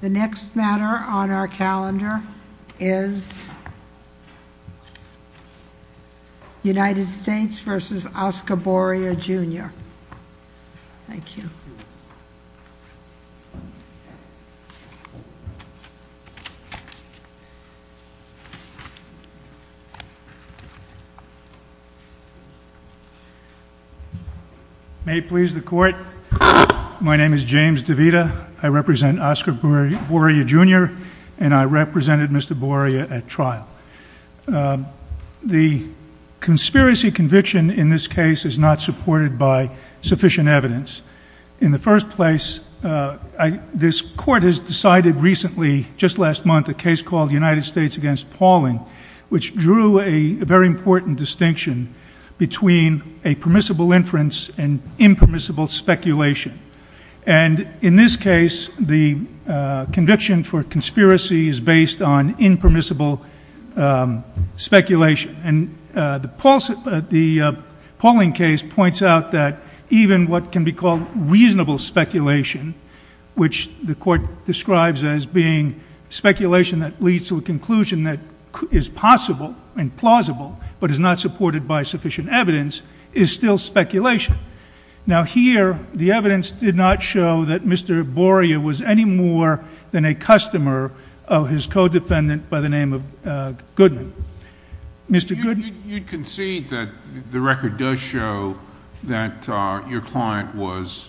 The next matter on our calendar is United States v. Oscar Boria, Jr. Thank you. May it please the Court, my name is James DeVita. I represent Oscar Boria, Jr., and I represented Mr. Boria at trial. The conspiracy conviction in this case is not supported by sufficient evidence. In the first place, this Court has decided recently, just last month, a case called United States v. Pauling, which drew a very important distinction between a permissible inference and impermissible speculation. And in this case, the conviction for conspiracy is based on impermissible speculation. And the Pauling case points out that even what can be called reasonable speculation, which the Court describes as being speculation that leads to a conclusion that is possible and plausible, but is not supported by sufficient evidence, is still speculation. Now here, the evidence did not show that Mr. Boria was any more than a customer of his co-defendant by the name of Goodman. Mr. Goodman? You concede that the record does show that your client was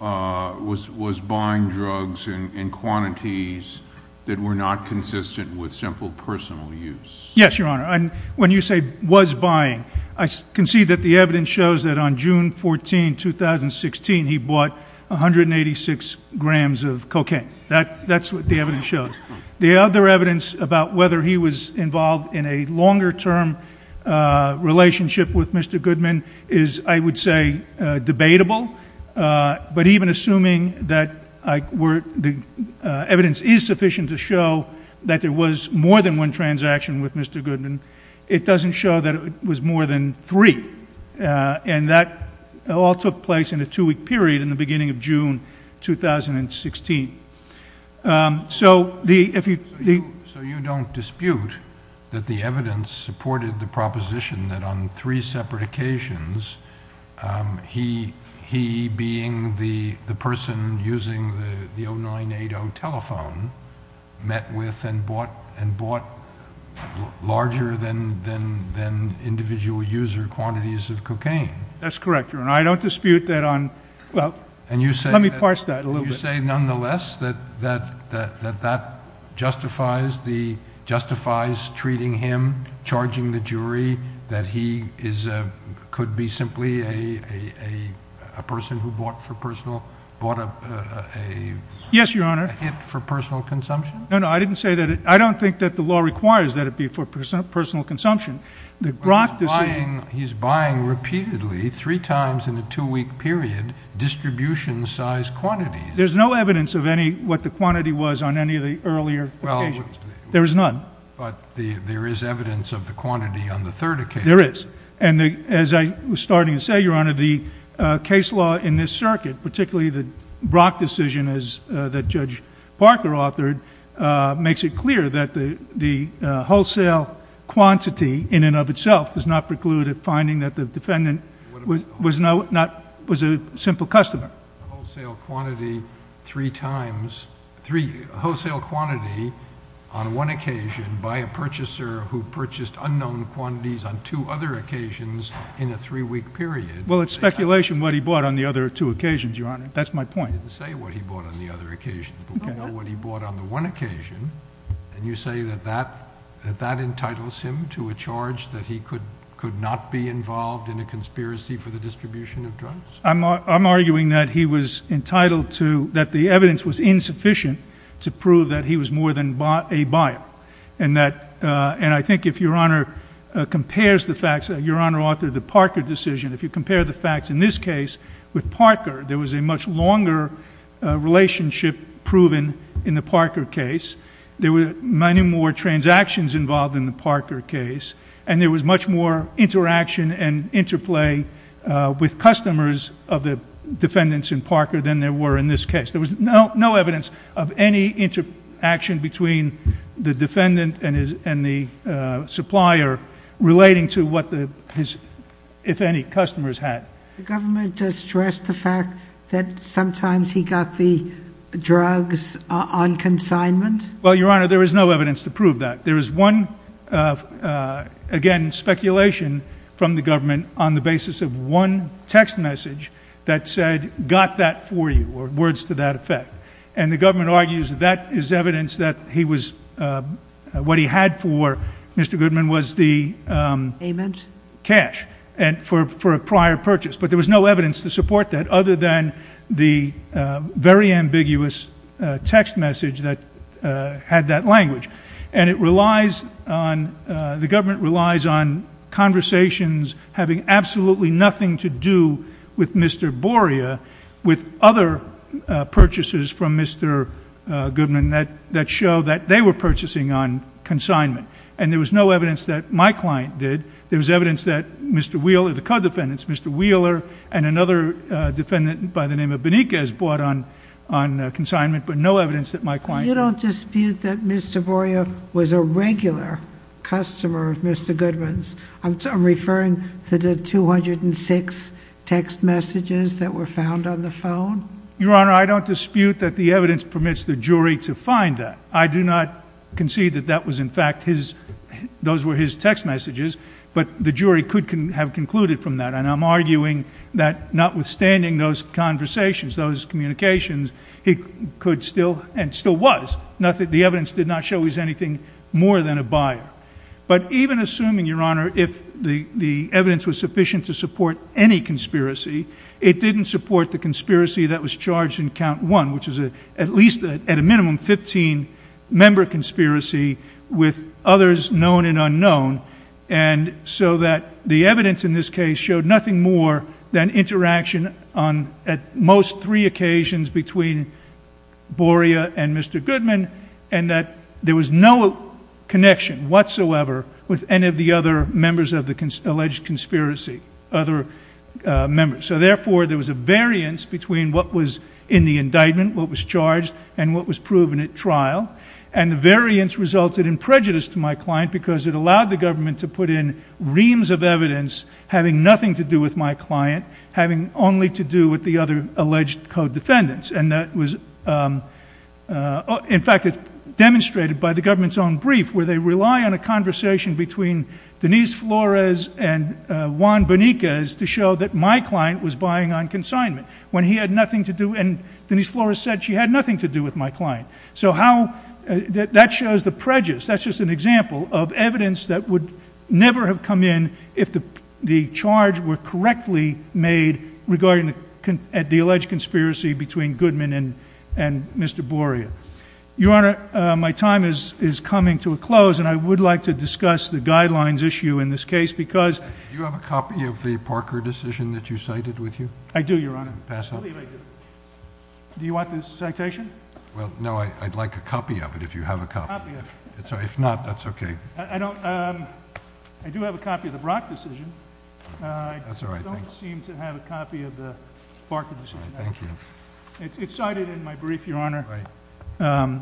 buying drugs in quantities that were not consistent with simple personal use. Yes, Your Honor. And when you say was buying, I concede that the evidence shows that on June 14, 2016, he bought 186 grams of cocaine. That's what the evidence shows. The other evidence about whether he was involved in a longer-term relationship with Mr. Goodman is, I would say, debatable. But even assuming that the evidence is sufficient to show that there was more than one transaction with Mr. Goodman, it doesn't show that it was more than three. And that all took place in a two-week period in the beginning of June 2016. So you don't dispute that the evidence supported the proposition that on three separate occasions, he, being the person using the 0980 telephone, met with and bought larger than individual user quantities of cocaine? That's correct, Your Honor. I don't dispute that on – well, let me parse that a little bit. Would you say, nonetheless, that that justifies treating him, charging the jury, that he could be simply a person who bought a hit for personal consumption? No, no, I didn't say that. I don't think that the law requires that it be for personal consumption. But he's buying repeatedly, three times in a two-week period, distribution-size quantities. There's no evidence of what the quantity was on any of the earlier occasions. There is none. But there is evidence of the quantity on the third occasion. There is. And as I was starting to say, Your Honor, the case law in this circuit, particularly the Brock decision that Judge Parker authored, makes it clear that the wholesale quantity in and of itself does not preclude a finding that the defendant was a simple customer. A wholesale quantity three times – a wholesale quantity on one occasion by a purchaser who purchased unknown quantities on two other occasions in a three-week period. Well, it's speculation what he bought on the other two occasions, Your Honor. That's my point. I didn't say what he bought on the other occasion, but what he bought on the one occasion. And you say that that entitles him to a charge that he could not be involved in a conspiracy for the distribution of drugs? I'm arguing that he was entitled to – that the evidence was insufficient to prove that he was more than a buyer. And that – and I think if Your Honor compares the facts – Your Honor authored the Parker decision. If you compare the facts in this case with Parker, there was a much longer relationship proven in the Parker case. There were many more transactions involved in the Parker case. And there was much more interaction and interplay with customers of the defendants in Parker than there were in this case. There was no evidence of any interaction between the defendant and the supplier relating to what his, if any, customers had. The government just stressed the fact that sometimes he got the drugs on consignment? Well, Your Honor, there is no evidence to prove that. There is one, again, speculation from the government on the basis of one text message that said, got that for you, or words to that effect. And the government argues that that is evidence that he was – what he had for Mr. Goodman was the cash for a prior purchase. But there was no evidence to support that other than the very ambiguous text message that had that language. And it relies on – the government relies on conversations having absolutely nothing to do with Mr. Boria with other purchases from Mr. Goodman that show that they were purchasing on consignment. And there was no evidence that my client did. There was evidence that Mr. Wheeler – the co-defendants, Mr. Wheeler and another defendant by the name of Beniquez bought on consignment, but no evidence that my client did. You don't dispute that Mr. Boria was a regular customer of Mr. Goodman's? I'm referring to the 206 text messages that were found on the phone? Your Honor, I don't dispute that the evidence permits the jury to find that. I do not concede that that was in fact his – those were his text messages, but the jury could have concluded from that. And I'm arguing that notwithstanding those conversations, those communications, he could still – and still was – the evidence did not show he was anything more than a buyer. But even assuming, Your Honor, if the evidence was sufficient to support any conspiracy, it didn't support the conspiracy that was charged in Count 1, which is at least at a minimum 15-member conspiracy with others known and unknown. And so that the evidence in this case showed nothing more than interaction on at most three occasions between Boria and Mr. Goodman, and that there was no connection whatsoever with any of the other members of the alleged conspiracy, other members. So therefore, there was a variance between what was in the indictment, what was charged, and what was proven at trial. And the variance resulted in prejudice to my client because it allowed the government to put in reams of evidence having nothing to do with my client, having only to do with the other alleged co-defendants. And that was – in fact, it's demonstrated by the government's own brief, where they rely on a conversation between Denise Flores and Juan Bonicas to show that my client was buying on consignment when he had nothing to do – and Denise Flores said she had nothing to do with my client. So how – that shows the prejudice. That's just an example of evidence that would never have come in if the charge were correctly made regarding the alleged conspiracy between Goodman and Mr. Boria. Your Honor, my time is coming to a close, and I would like to discuss the guidelines issue in this case because – Do you have a copy of the Parker decision that you cited with you? I do, Your Honor. Pass it. I believe I do. Do you want this citation? Well, no, I'd like a copy of it if you have a copy. A copy of it. If not, that's okay. I don't – I do have a copy of the Brock decision. That's all right. Thank you. It's cited in my brief, Your Honor. All right.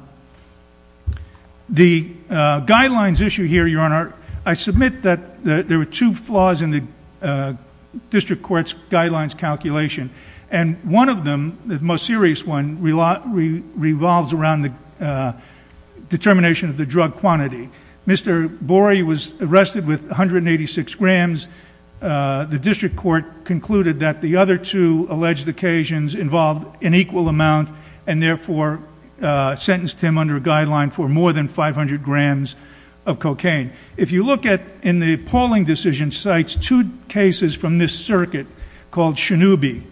The guidelines issue here, Your Honor, I submit that there were two flaws in the district court's guidelines calculation, and one of them, the most serious one, revolves around the determination of the drug quantity. Mr. Boria was arrested with 186 grams. The district court concluded that the other two alleged occasions involved an equal amount and, therefore, sentenced him under a guideline for more than 500 grams of cocaine. If you look at, in the polling decision sites, two cases from this circuit called Shinoubi,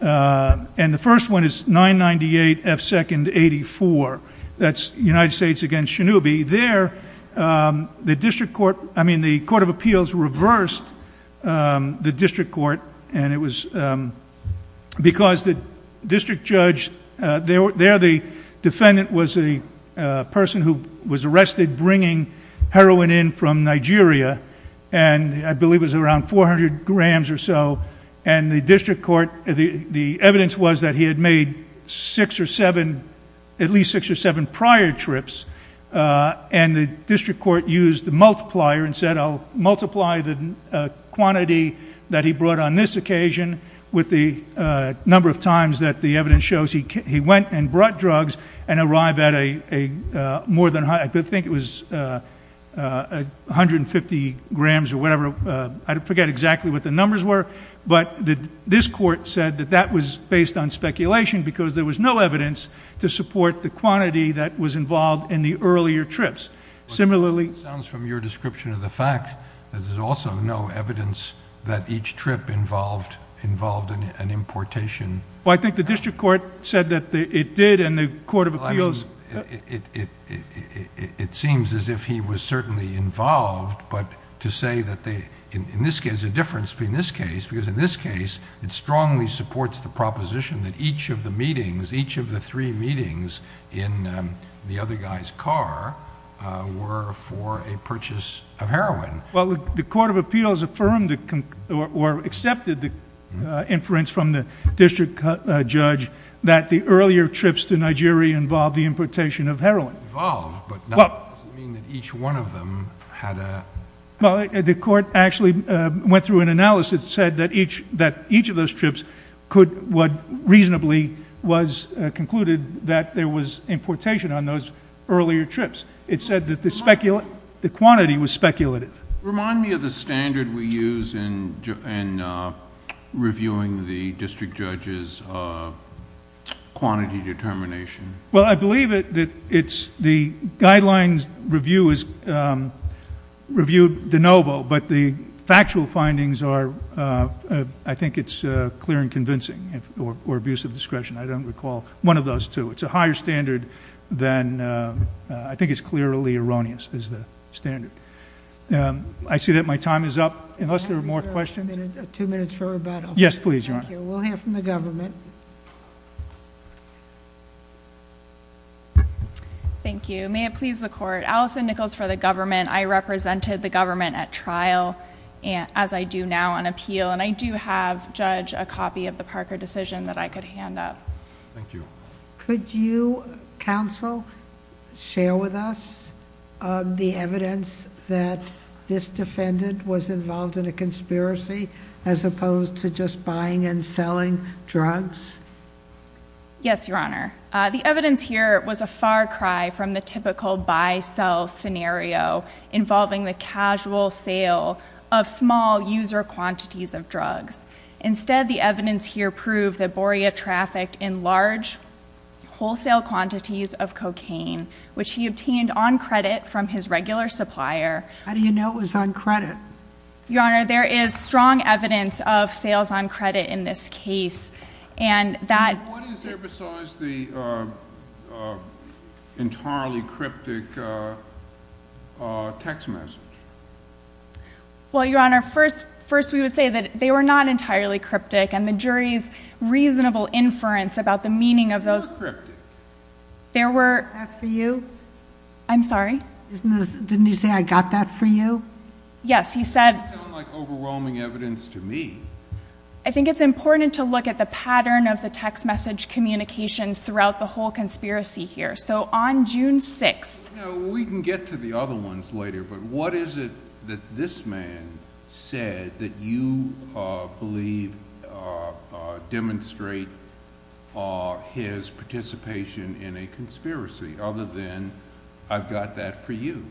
and the first one is 998 F. 2nd 84. That's United States against Shinoubi. There, the district court – I mean, the court of appeals reversed the district court, and it was because the district judge – there, the defendant was a person who was arrested bringing heroin in from Nigeria, and I believe it was around 400 grams or so, and the district court – the evidence was that he had made six or seven – at least six or seven prior trips, and the district court used the multiplier and said, I'll multiply the quantity that he brought on this occasion with the number of times that the evidence shows he went and brought drugs and arrived at a more than – I think it was 150 grams or whatever. I forget exactly what the numbers were, but this court said that that was based on speculation because there was no evidence to support the quantity that was involved in the earlier trips. Similarly – But it sounds from your description of the fact that there's also no evidence that each trip involved an importation. Well, I think the district court said that it did, and the court of appeals – there's a difference between this case because in this case, it strongly supports the proposition that each of the meetings, each of the three meetings in the other guy's car were for a purchase of heroin. Well, the court of appeals affirmed or accepted the inference from the district judge that the earlier trips to Nigeria involved the importation of heroin. Involved, but that doesn't mean that each one of them had a – Well, the court actually went through an analysis that said that each of those trips could – reasonably was concluded that there was importation on those earlier trips. It said that the quantity was speculative. Remind me of the standard we use in reviewing the district judge's quantity determination. Well, I believe that it's – the guidelines review is – reviewed de novo, but the factual findings are – I think it's clear and convincing, or abuse of discretion. I don't recall one of those two. It's a higher standard than – I think it's clearly erroneous as the standard. I see that my time is up. Unless there are more questions? Yes, please, Your Honor. Thank you. We'll hear from the government. Thank you. May it please the court. Allison Nichols for the government. I represented the government at trial, as I do now on appeal, and I do have, Judge, a copy of the Parker decision that I could hand up. Thank you. Could you, counsel, share with us the evidence that this defendant was involved in a conspiracy as opposed to just buying and selling drugs? Yes, Your Honor. The evidence here was a far cry from the typical buy-sell scenario involving the casual sale of small user quantities of drugs. Instead, the evidence here proved that Boria trafficked in large wholesale quantities of cocaine, which he obtained on credit from his regular supplier. How do you know it was on credit? Your Honor, there is strong evidence of sales on credit in this case. What is there besides the entirely cryptic text message? Well, Your Honor, first we would say that they were not entirely cryptic, and the jury's reasonable inference about the meaning of those... They were cryptic. There were... Is that for you? I'm sorry? Didn't you say, I got that for you? Yes, he said... That doesn't sound like overwhelming evidence to me. I think it's important to look at the pattern of the text message communications throughout the whole conspiracy here. So on June 6th... We can get to the other ones later, but what is it that this man said that you believe demonstrates his participation in a conspiracy, other than, I've got that for you?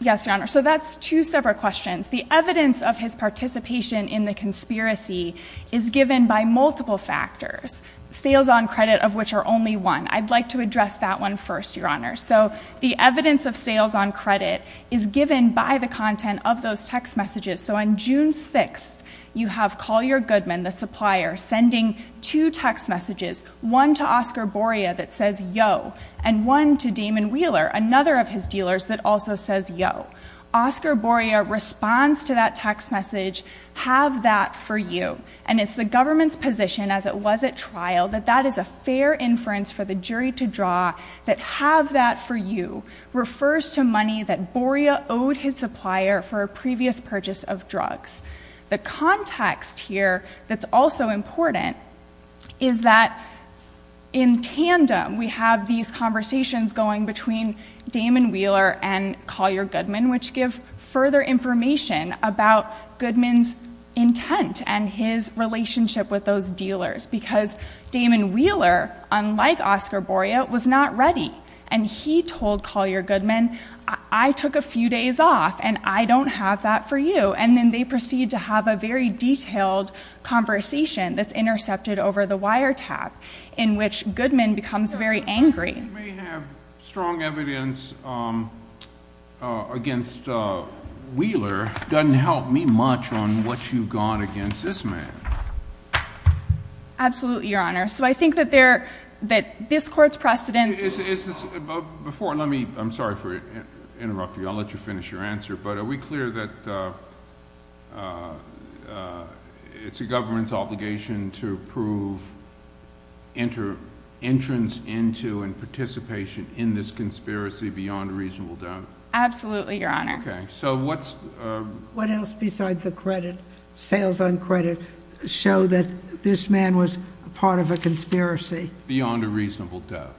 Yes, Your Honor. So that's two separate questions. The evidence of his participation in the conspiracy is given by multiple factors, sales on credit of which are only one. I'd like to address that one first, Your Honor. So the evidence of sales on credit is given by the content of those text messages. So on June 6th, you have Collier Goodman, the supplier, sending two text messages, one to Oscar Boria that says, Yo, and one to Damon Wheeler, another of his dealers, that also says, Yo. Oscar Boria responds to that text message, have that for you. And it's the government's position, as it was at trial, that that is a fair inference for the jury to draw, that have that for you refers to money that Boria owed his supplier for a previous purchase of drugs. The context here that's also important is that, in tandem, we have these conversations going between Damon Wheeler and Collier Goodman, which give further information about Goodman's intent and his relationship with those dealers. Because Damon Wheeler, unlike Oscar Boria, was not ready. And he told Collier Goodman, I took a few days off, and I don't have that for you. And then they proceed to have a very detailed conversation that's intercepted over the wiretap, in which Goodman becomes very angry. Your Honor, you may have strong evidence against Wheeler. It doesn't help me much on what you've got against this man. Absolutely, Your Honor. So I think that this Court's precedence is— Before, let me—I'm sorry for interrupting you. I'll let you finish your answer. But are we clear that it's a government's obligation to prove entrance into and participation in this conspiracy beyond a reasonable doubt? Absolutely, Your Honor. Okay. So what's— What else besides the credit, sales on credit, show that this man was part of a conspiracy? Beyond a reasonable doubt.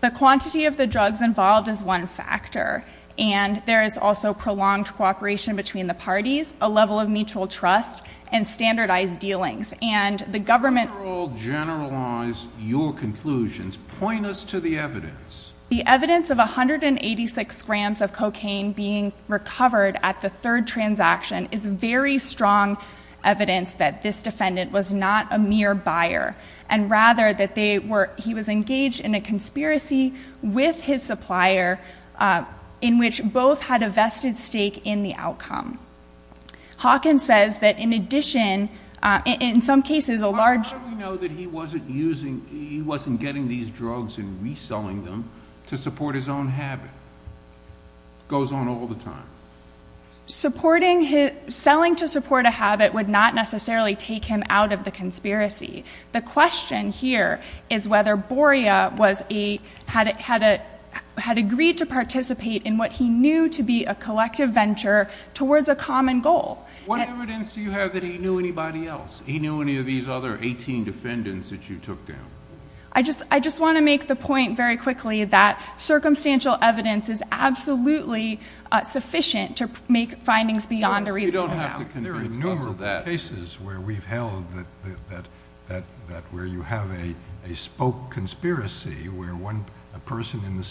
The quantity of the drugs involved is one factor. And there is also prolonged cooperation between the parties, a level of mutual trust, and standardized dealings. And the government— Before I generalize your conclusions, point us to the evidence. The evidence of 186 grams of cocaine being recovered at the third transaction is very strong evidence that this defendant was not a mere buyer, and rather that they were—he was engaged in a conspiracy with his supplier in which both had a vested stake in the outcome. Hawkins says that in addition, in some cases, a large— How do we know that he wasn't using—he wasn't getting these drugs and reselling them to support his own habit? It goes on all the time. Supporting his—selling to support a habit would not necessarily take him out of the conspiracy. The question here is whether Boria had agreed to participate in what he knew to be a collective venture towards a common goal. What evidence do you have that he knew anybody else? He knew any of these other 18 defendants that you took down? I just want to make the point very quickly that circumstantial evidence is absolutely sufficient to make findings beyond a reasonable doubt. There are numerous cases where we've held that where you have a spoke conspiracy where a person in the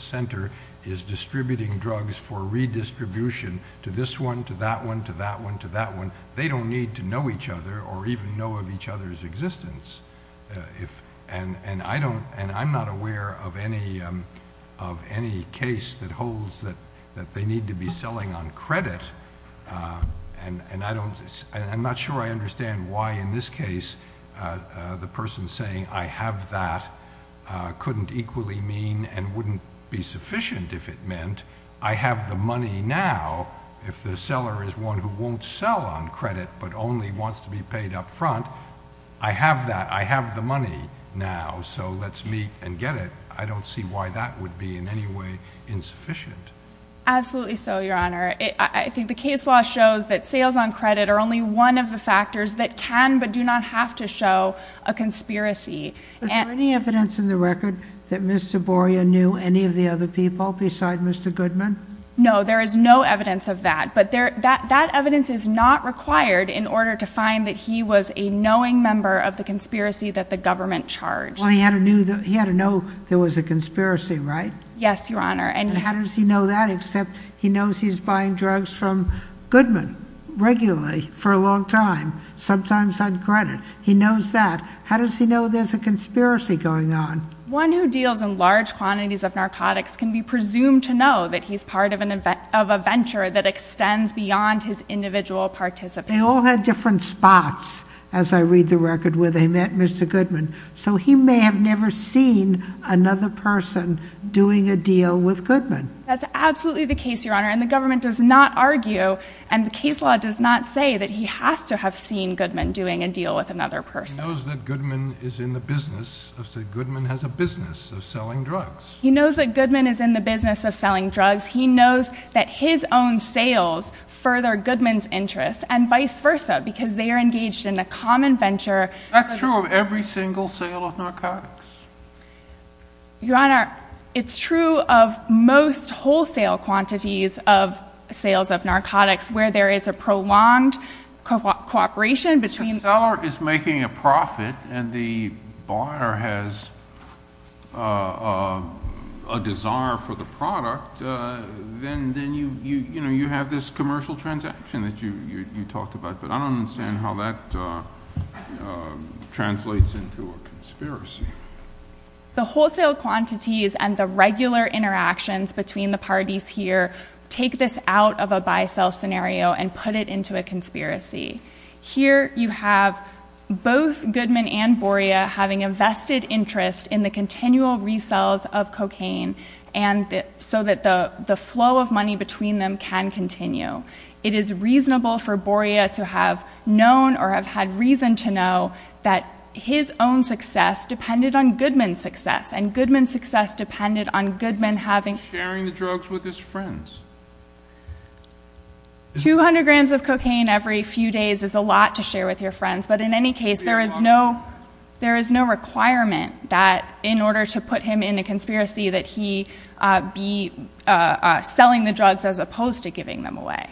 center is distributing drugs for redistribution to this one, to that one, to that one, to that one. They don't need to know each other or even know of each other's existence. I'm not aware of any case that holds that they need to be selling on credit. I'm not sure I understand why in this case the person saying, I have that, couldn't equally mean and wouldn't be sufficient if it meant I have the money now if the seller is one who won't sell on credit but only wants to be paid up front. I have that. I have the money now. So let's meet and get it. I don't see why that would be in any way insufficient. Absolutely so, Your Honor. I think the case law shows that sales on credit are only one of the factors that can but do not have to show a conspiracy. Is there any evidence in the record that Mr. Boria knew any of the other people besides Mr. Goodman? No, there is no evidence of that. But that evidence is not required in order to find that he was a knowing member of the conspiracy that the government charged. Well, he had to know there was a conspiracy, right? Yes, Your Honor. And how does he know that except he knows he's buying drugs from Goodman regularly for a long time, sometimes on credit. He knows that. How does he know there's a conspiracy going on? One who deals in large quantities of narcotics can be presumed to know that he's part of a venture that extends beyond his individual participation. They all had different spots, as I read the record, where they met Mr. Goodman. So he may have never seen another person doing a deal with Goodman. That's absolutely the case, Your Honor, and the government does not argue and the case law does not say that he has to have seen Goodman doing a deal with another person. He knows that Goodman is in the business of selling drugs. He knows that his own sales further Goodman's interests, and vice versa, because they are engaged in a common venture. That's true of every single sale of narcotics. Your Honor, it's true of most wholesale quantities of sales of narcotics where there is a prolonged cooperation between... The seller is making a profit and the buyer has... a desire for the product, then you have this commercial transaction that you talked about, but I don't understand how that translates into a conspiracy. The wholesale quantities and the regular interactions between the parties here take this out of a buy-sell scenario and put it into a conspiracy. Here you have both Goodman and Boria having a vested interest in the continual resells of cocaine so that the flow of money between them can continue. It is reasonable for Boria to have known or have had reason to know that his own success depended on Goodman's success, and Goodman's success depended on Goodman having... Sharing the drugs with his friends. 200 grams of cocaine every few days is a lot to share with your friends, but in any case, there is no requirement that in order to put him in a conspiracy that he be selling the drugs as opposed to giving them away.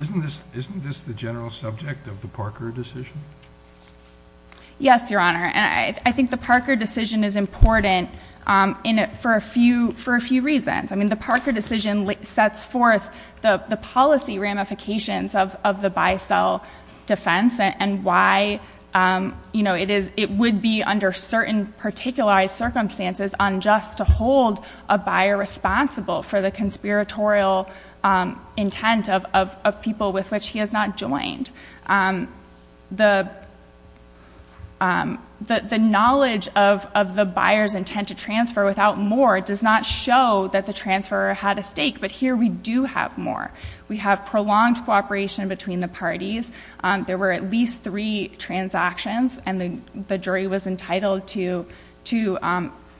Isn't this the general subject of the Parker decision? Yes, Your Honor, and I think the Parker decision is important for a few reasons. The Parker decision sets forth the policy ramifications of the buy-sell defense and why it would be under certain particular circumstances unjust to hold a buyer responsible for the conspiratorial intent of people with which he has not joined. The knowledge of the buyer's intent to transfer without more does not show that the transfer had a stake, but here we do have more. We have prolonged cooperation between the parties. There were at least three transactions, and the jury was entitled to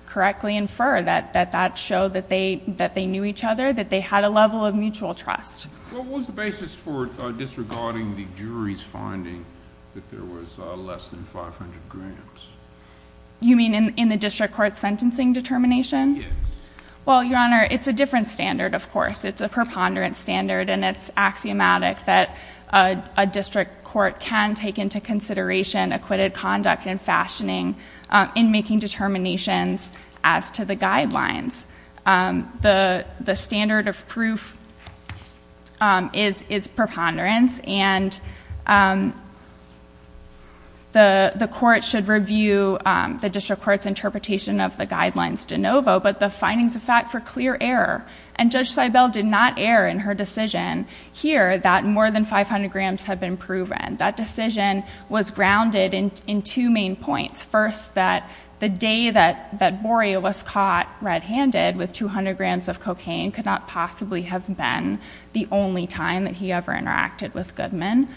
correctly infer that that showed that they knew each other, that they had a level of mutual trust. What was the basis for disregarding the jury's finding that there was less than 500 grams? You mean in the district court's sentencing determination? Yes. Well, Your Honor, it's a different standard, of course. It's a preponderance standard, and it's axiomatic that a district court can take into consideration acquitted conduct and fashioning in making determinations as to the guidelines. The standard of proof is preponderance, and the court should review the district court's interpretation of the guidelines de novo, but the findings of fact for clear error. And Judge Seibel did not err in her decision here that more than 500 grams had been proven. That decision was grounded in two main points. First, that the day that Boria was caught red-handed with 200 grams of cocaine could not possibly have been the only time that he ever interacted with Goodman.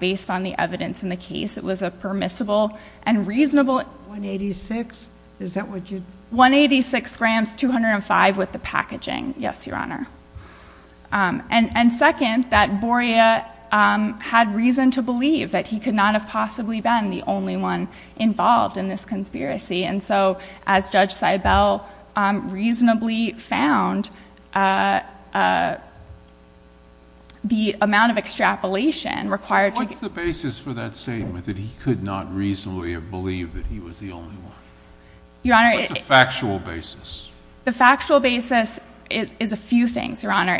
Based on the evidence in the case, it was a permissible and reasonable 186? Is that what you? 186 grams, 205 with the packaging, yes, Your Honor. And second, that Boria had reason to believe that he could not have possibly been the only one involved in this conspiracy, and so as Judge Seibel reasonably found the amount of extrapolation required. What's the basis for that statement, that he could not reasonably have believed that he was the only one? What's the factual basis? The factual basis is a few things, Your Honor.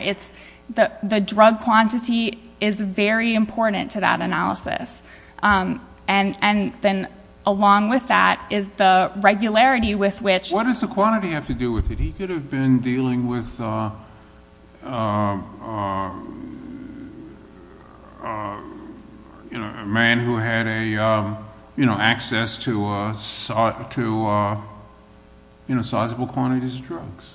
The drug quantity is very important to that analysis, and then along with that is the regularity with which What does the quantity have to do with it? He could have been dealing with a man who had access to sizable quantities of drugs.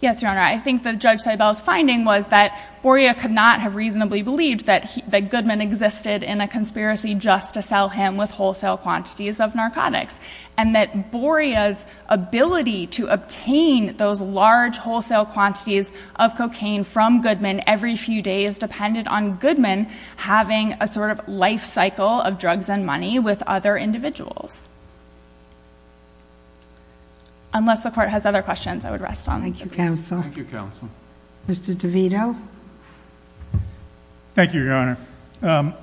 Yes, Your Honor. I think that Judge Seibel's finding was that Boria could not have reasonably believed that Goodman existed in a conspiracy just to sell him with wholesale quantities of narcotics, and that Boria's ability to obtain those large wholesale quantities of cocaine from Goodman every few days depended on Goodman having a sort of life cycle of drugs and money with other individuals. Unless the Court has other questions, I would rest on it. Thank you, Counsel. Thank you, Counsel. Thank you, Your Honor.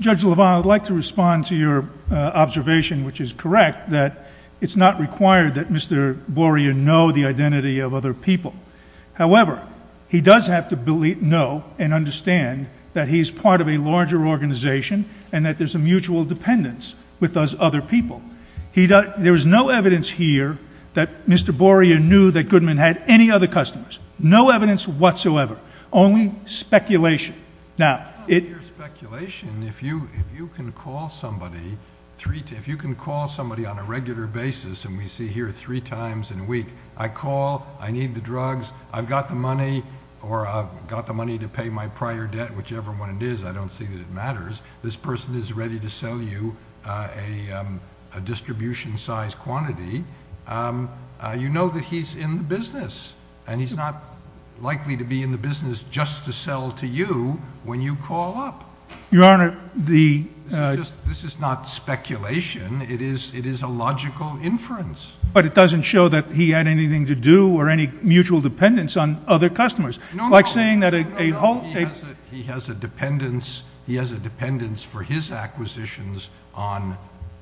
Judge Lovano, I'd like to respond to your observation, which is correct, that it's not required that Mr. Boria know the identity of other people. However, he does have to know and understand that he's part of a larger organization and that there's a mutual dependence with those other people. There is no evidence here that Mr. Boria knew that Goodman had any other customers. No evidence whatsoever. Only speculation. It's not mere speculation. If you can call somebody on a regular basis, and we see here three times in a week, I call, I need the drugs, I've got the money, or I've got the money to pay my prior debt, whichever one it is, I don't see that it matters. This person is ready to sell you a distribution-size quantity. You know that he's in the business, and he's not likely to be in the business just to sell to you when you call up. Your Honor, the ---- This is not speculation. It is a logical inference. But it doesn't show that he had anything to do or any mutual dependence on other customers. No, no. Like saying that a whole ---- He has a dependence for his acquisitions on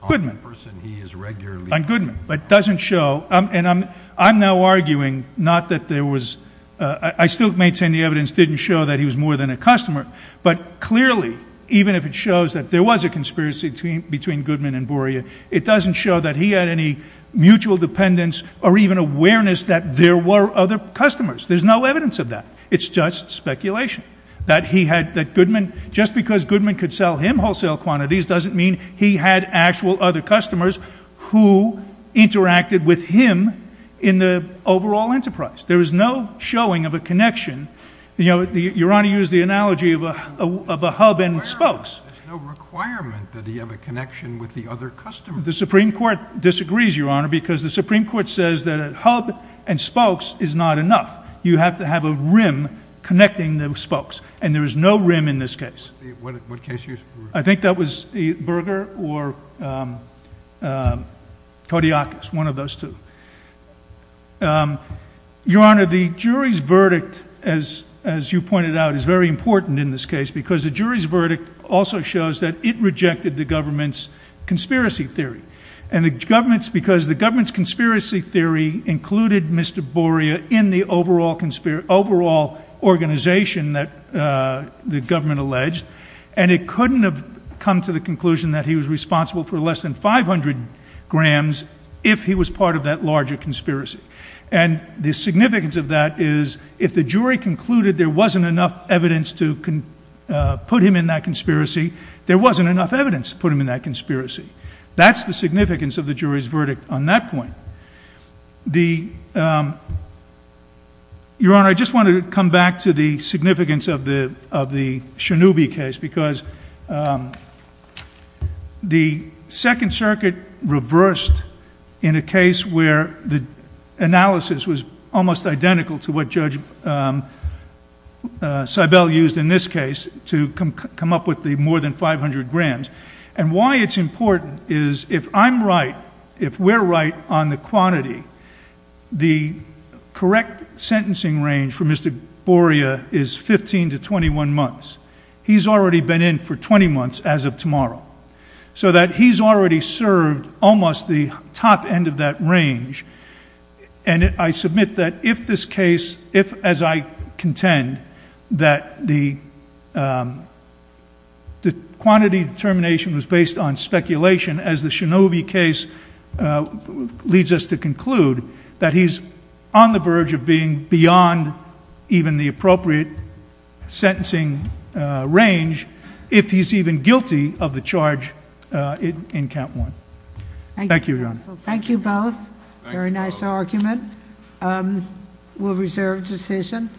the person he is regularly ---- On Goodman. But it doesn't show ---- And I'm now arguing not that there was ---- I still maintain the evidence didn't show that he was more than a customer. But clearly, even if it shows that there was a conspiracy between Goodman and Boria, it doesn't show that he had any mutual dependence or even awareness that there were other customers. There's no evidence of that. It's just speculation. That he had ---- That Goodman, just because Goodman could sell him wholesale quantities doesn't mean he had actual other customers who interacted with him in the overall enterprise. There is no showing of a connection. You know, Your Honor used the analogy of a hub and spokes. There's no requirement that he have a connection with the other customers. The Supreme Court disagrees, Your Honor, because the Supreme Court says that a hub and spokes is not enough. You have to have a rim connecting the spokes. And there is no rim in this case. What case ---- I think that was Berger or Kodiakos, one of those two. Your Honor, the jury's verdict, as you pointed out, is very important in this case because the jury's verdict also shows that it rejected the government's conspiracy theory. And the government's ---- because the government's conspiracy theory included Mr. Boria in the overall organization that the government alleged. And it couldn't have come to the conclusion that he was responsible for less than 500 grams if he was part of that larger conspiracy. And the significance of that is if the jury concluded there wasn't enough evidence to put him in that conspiracy, there wasn't enough evidence to put him in that conspiracy. That's the significance of the jury's verdict on that point. The ---- Your Honor, I just want to come back to the significance of the Shinobi case because the Second Circuit reversed in a case where the analysis was almost identical to what Judge Seibel used in this case to come up with the more than 500 grams. And why it's important is if I'm right, if we're right on the quantity, the correct sentencing range for Mr. Boria is 15 to 21 months. He's already been in for 20 months as of tomorrow. So that he's already served almost the top end of that range. And I submit that if this case, if as I contend that the quantity determination was based on speculation, as the Shinobi case leads us to conclude, that he's on the verge of being beyond even the appropriate sentencing range if he's even guilty of the charge in Count 1. Thank you, Your Honor. Thank you both. Very nice argument. We'll reserve decision.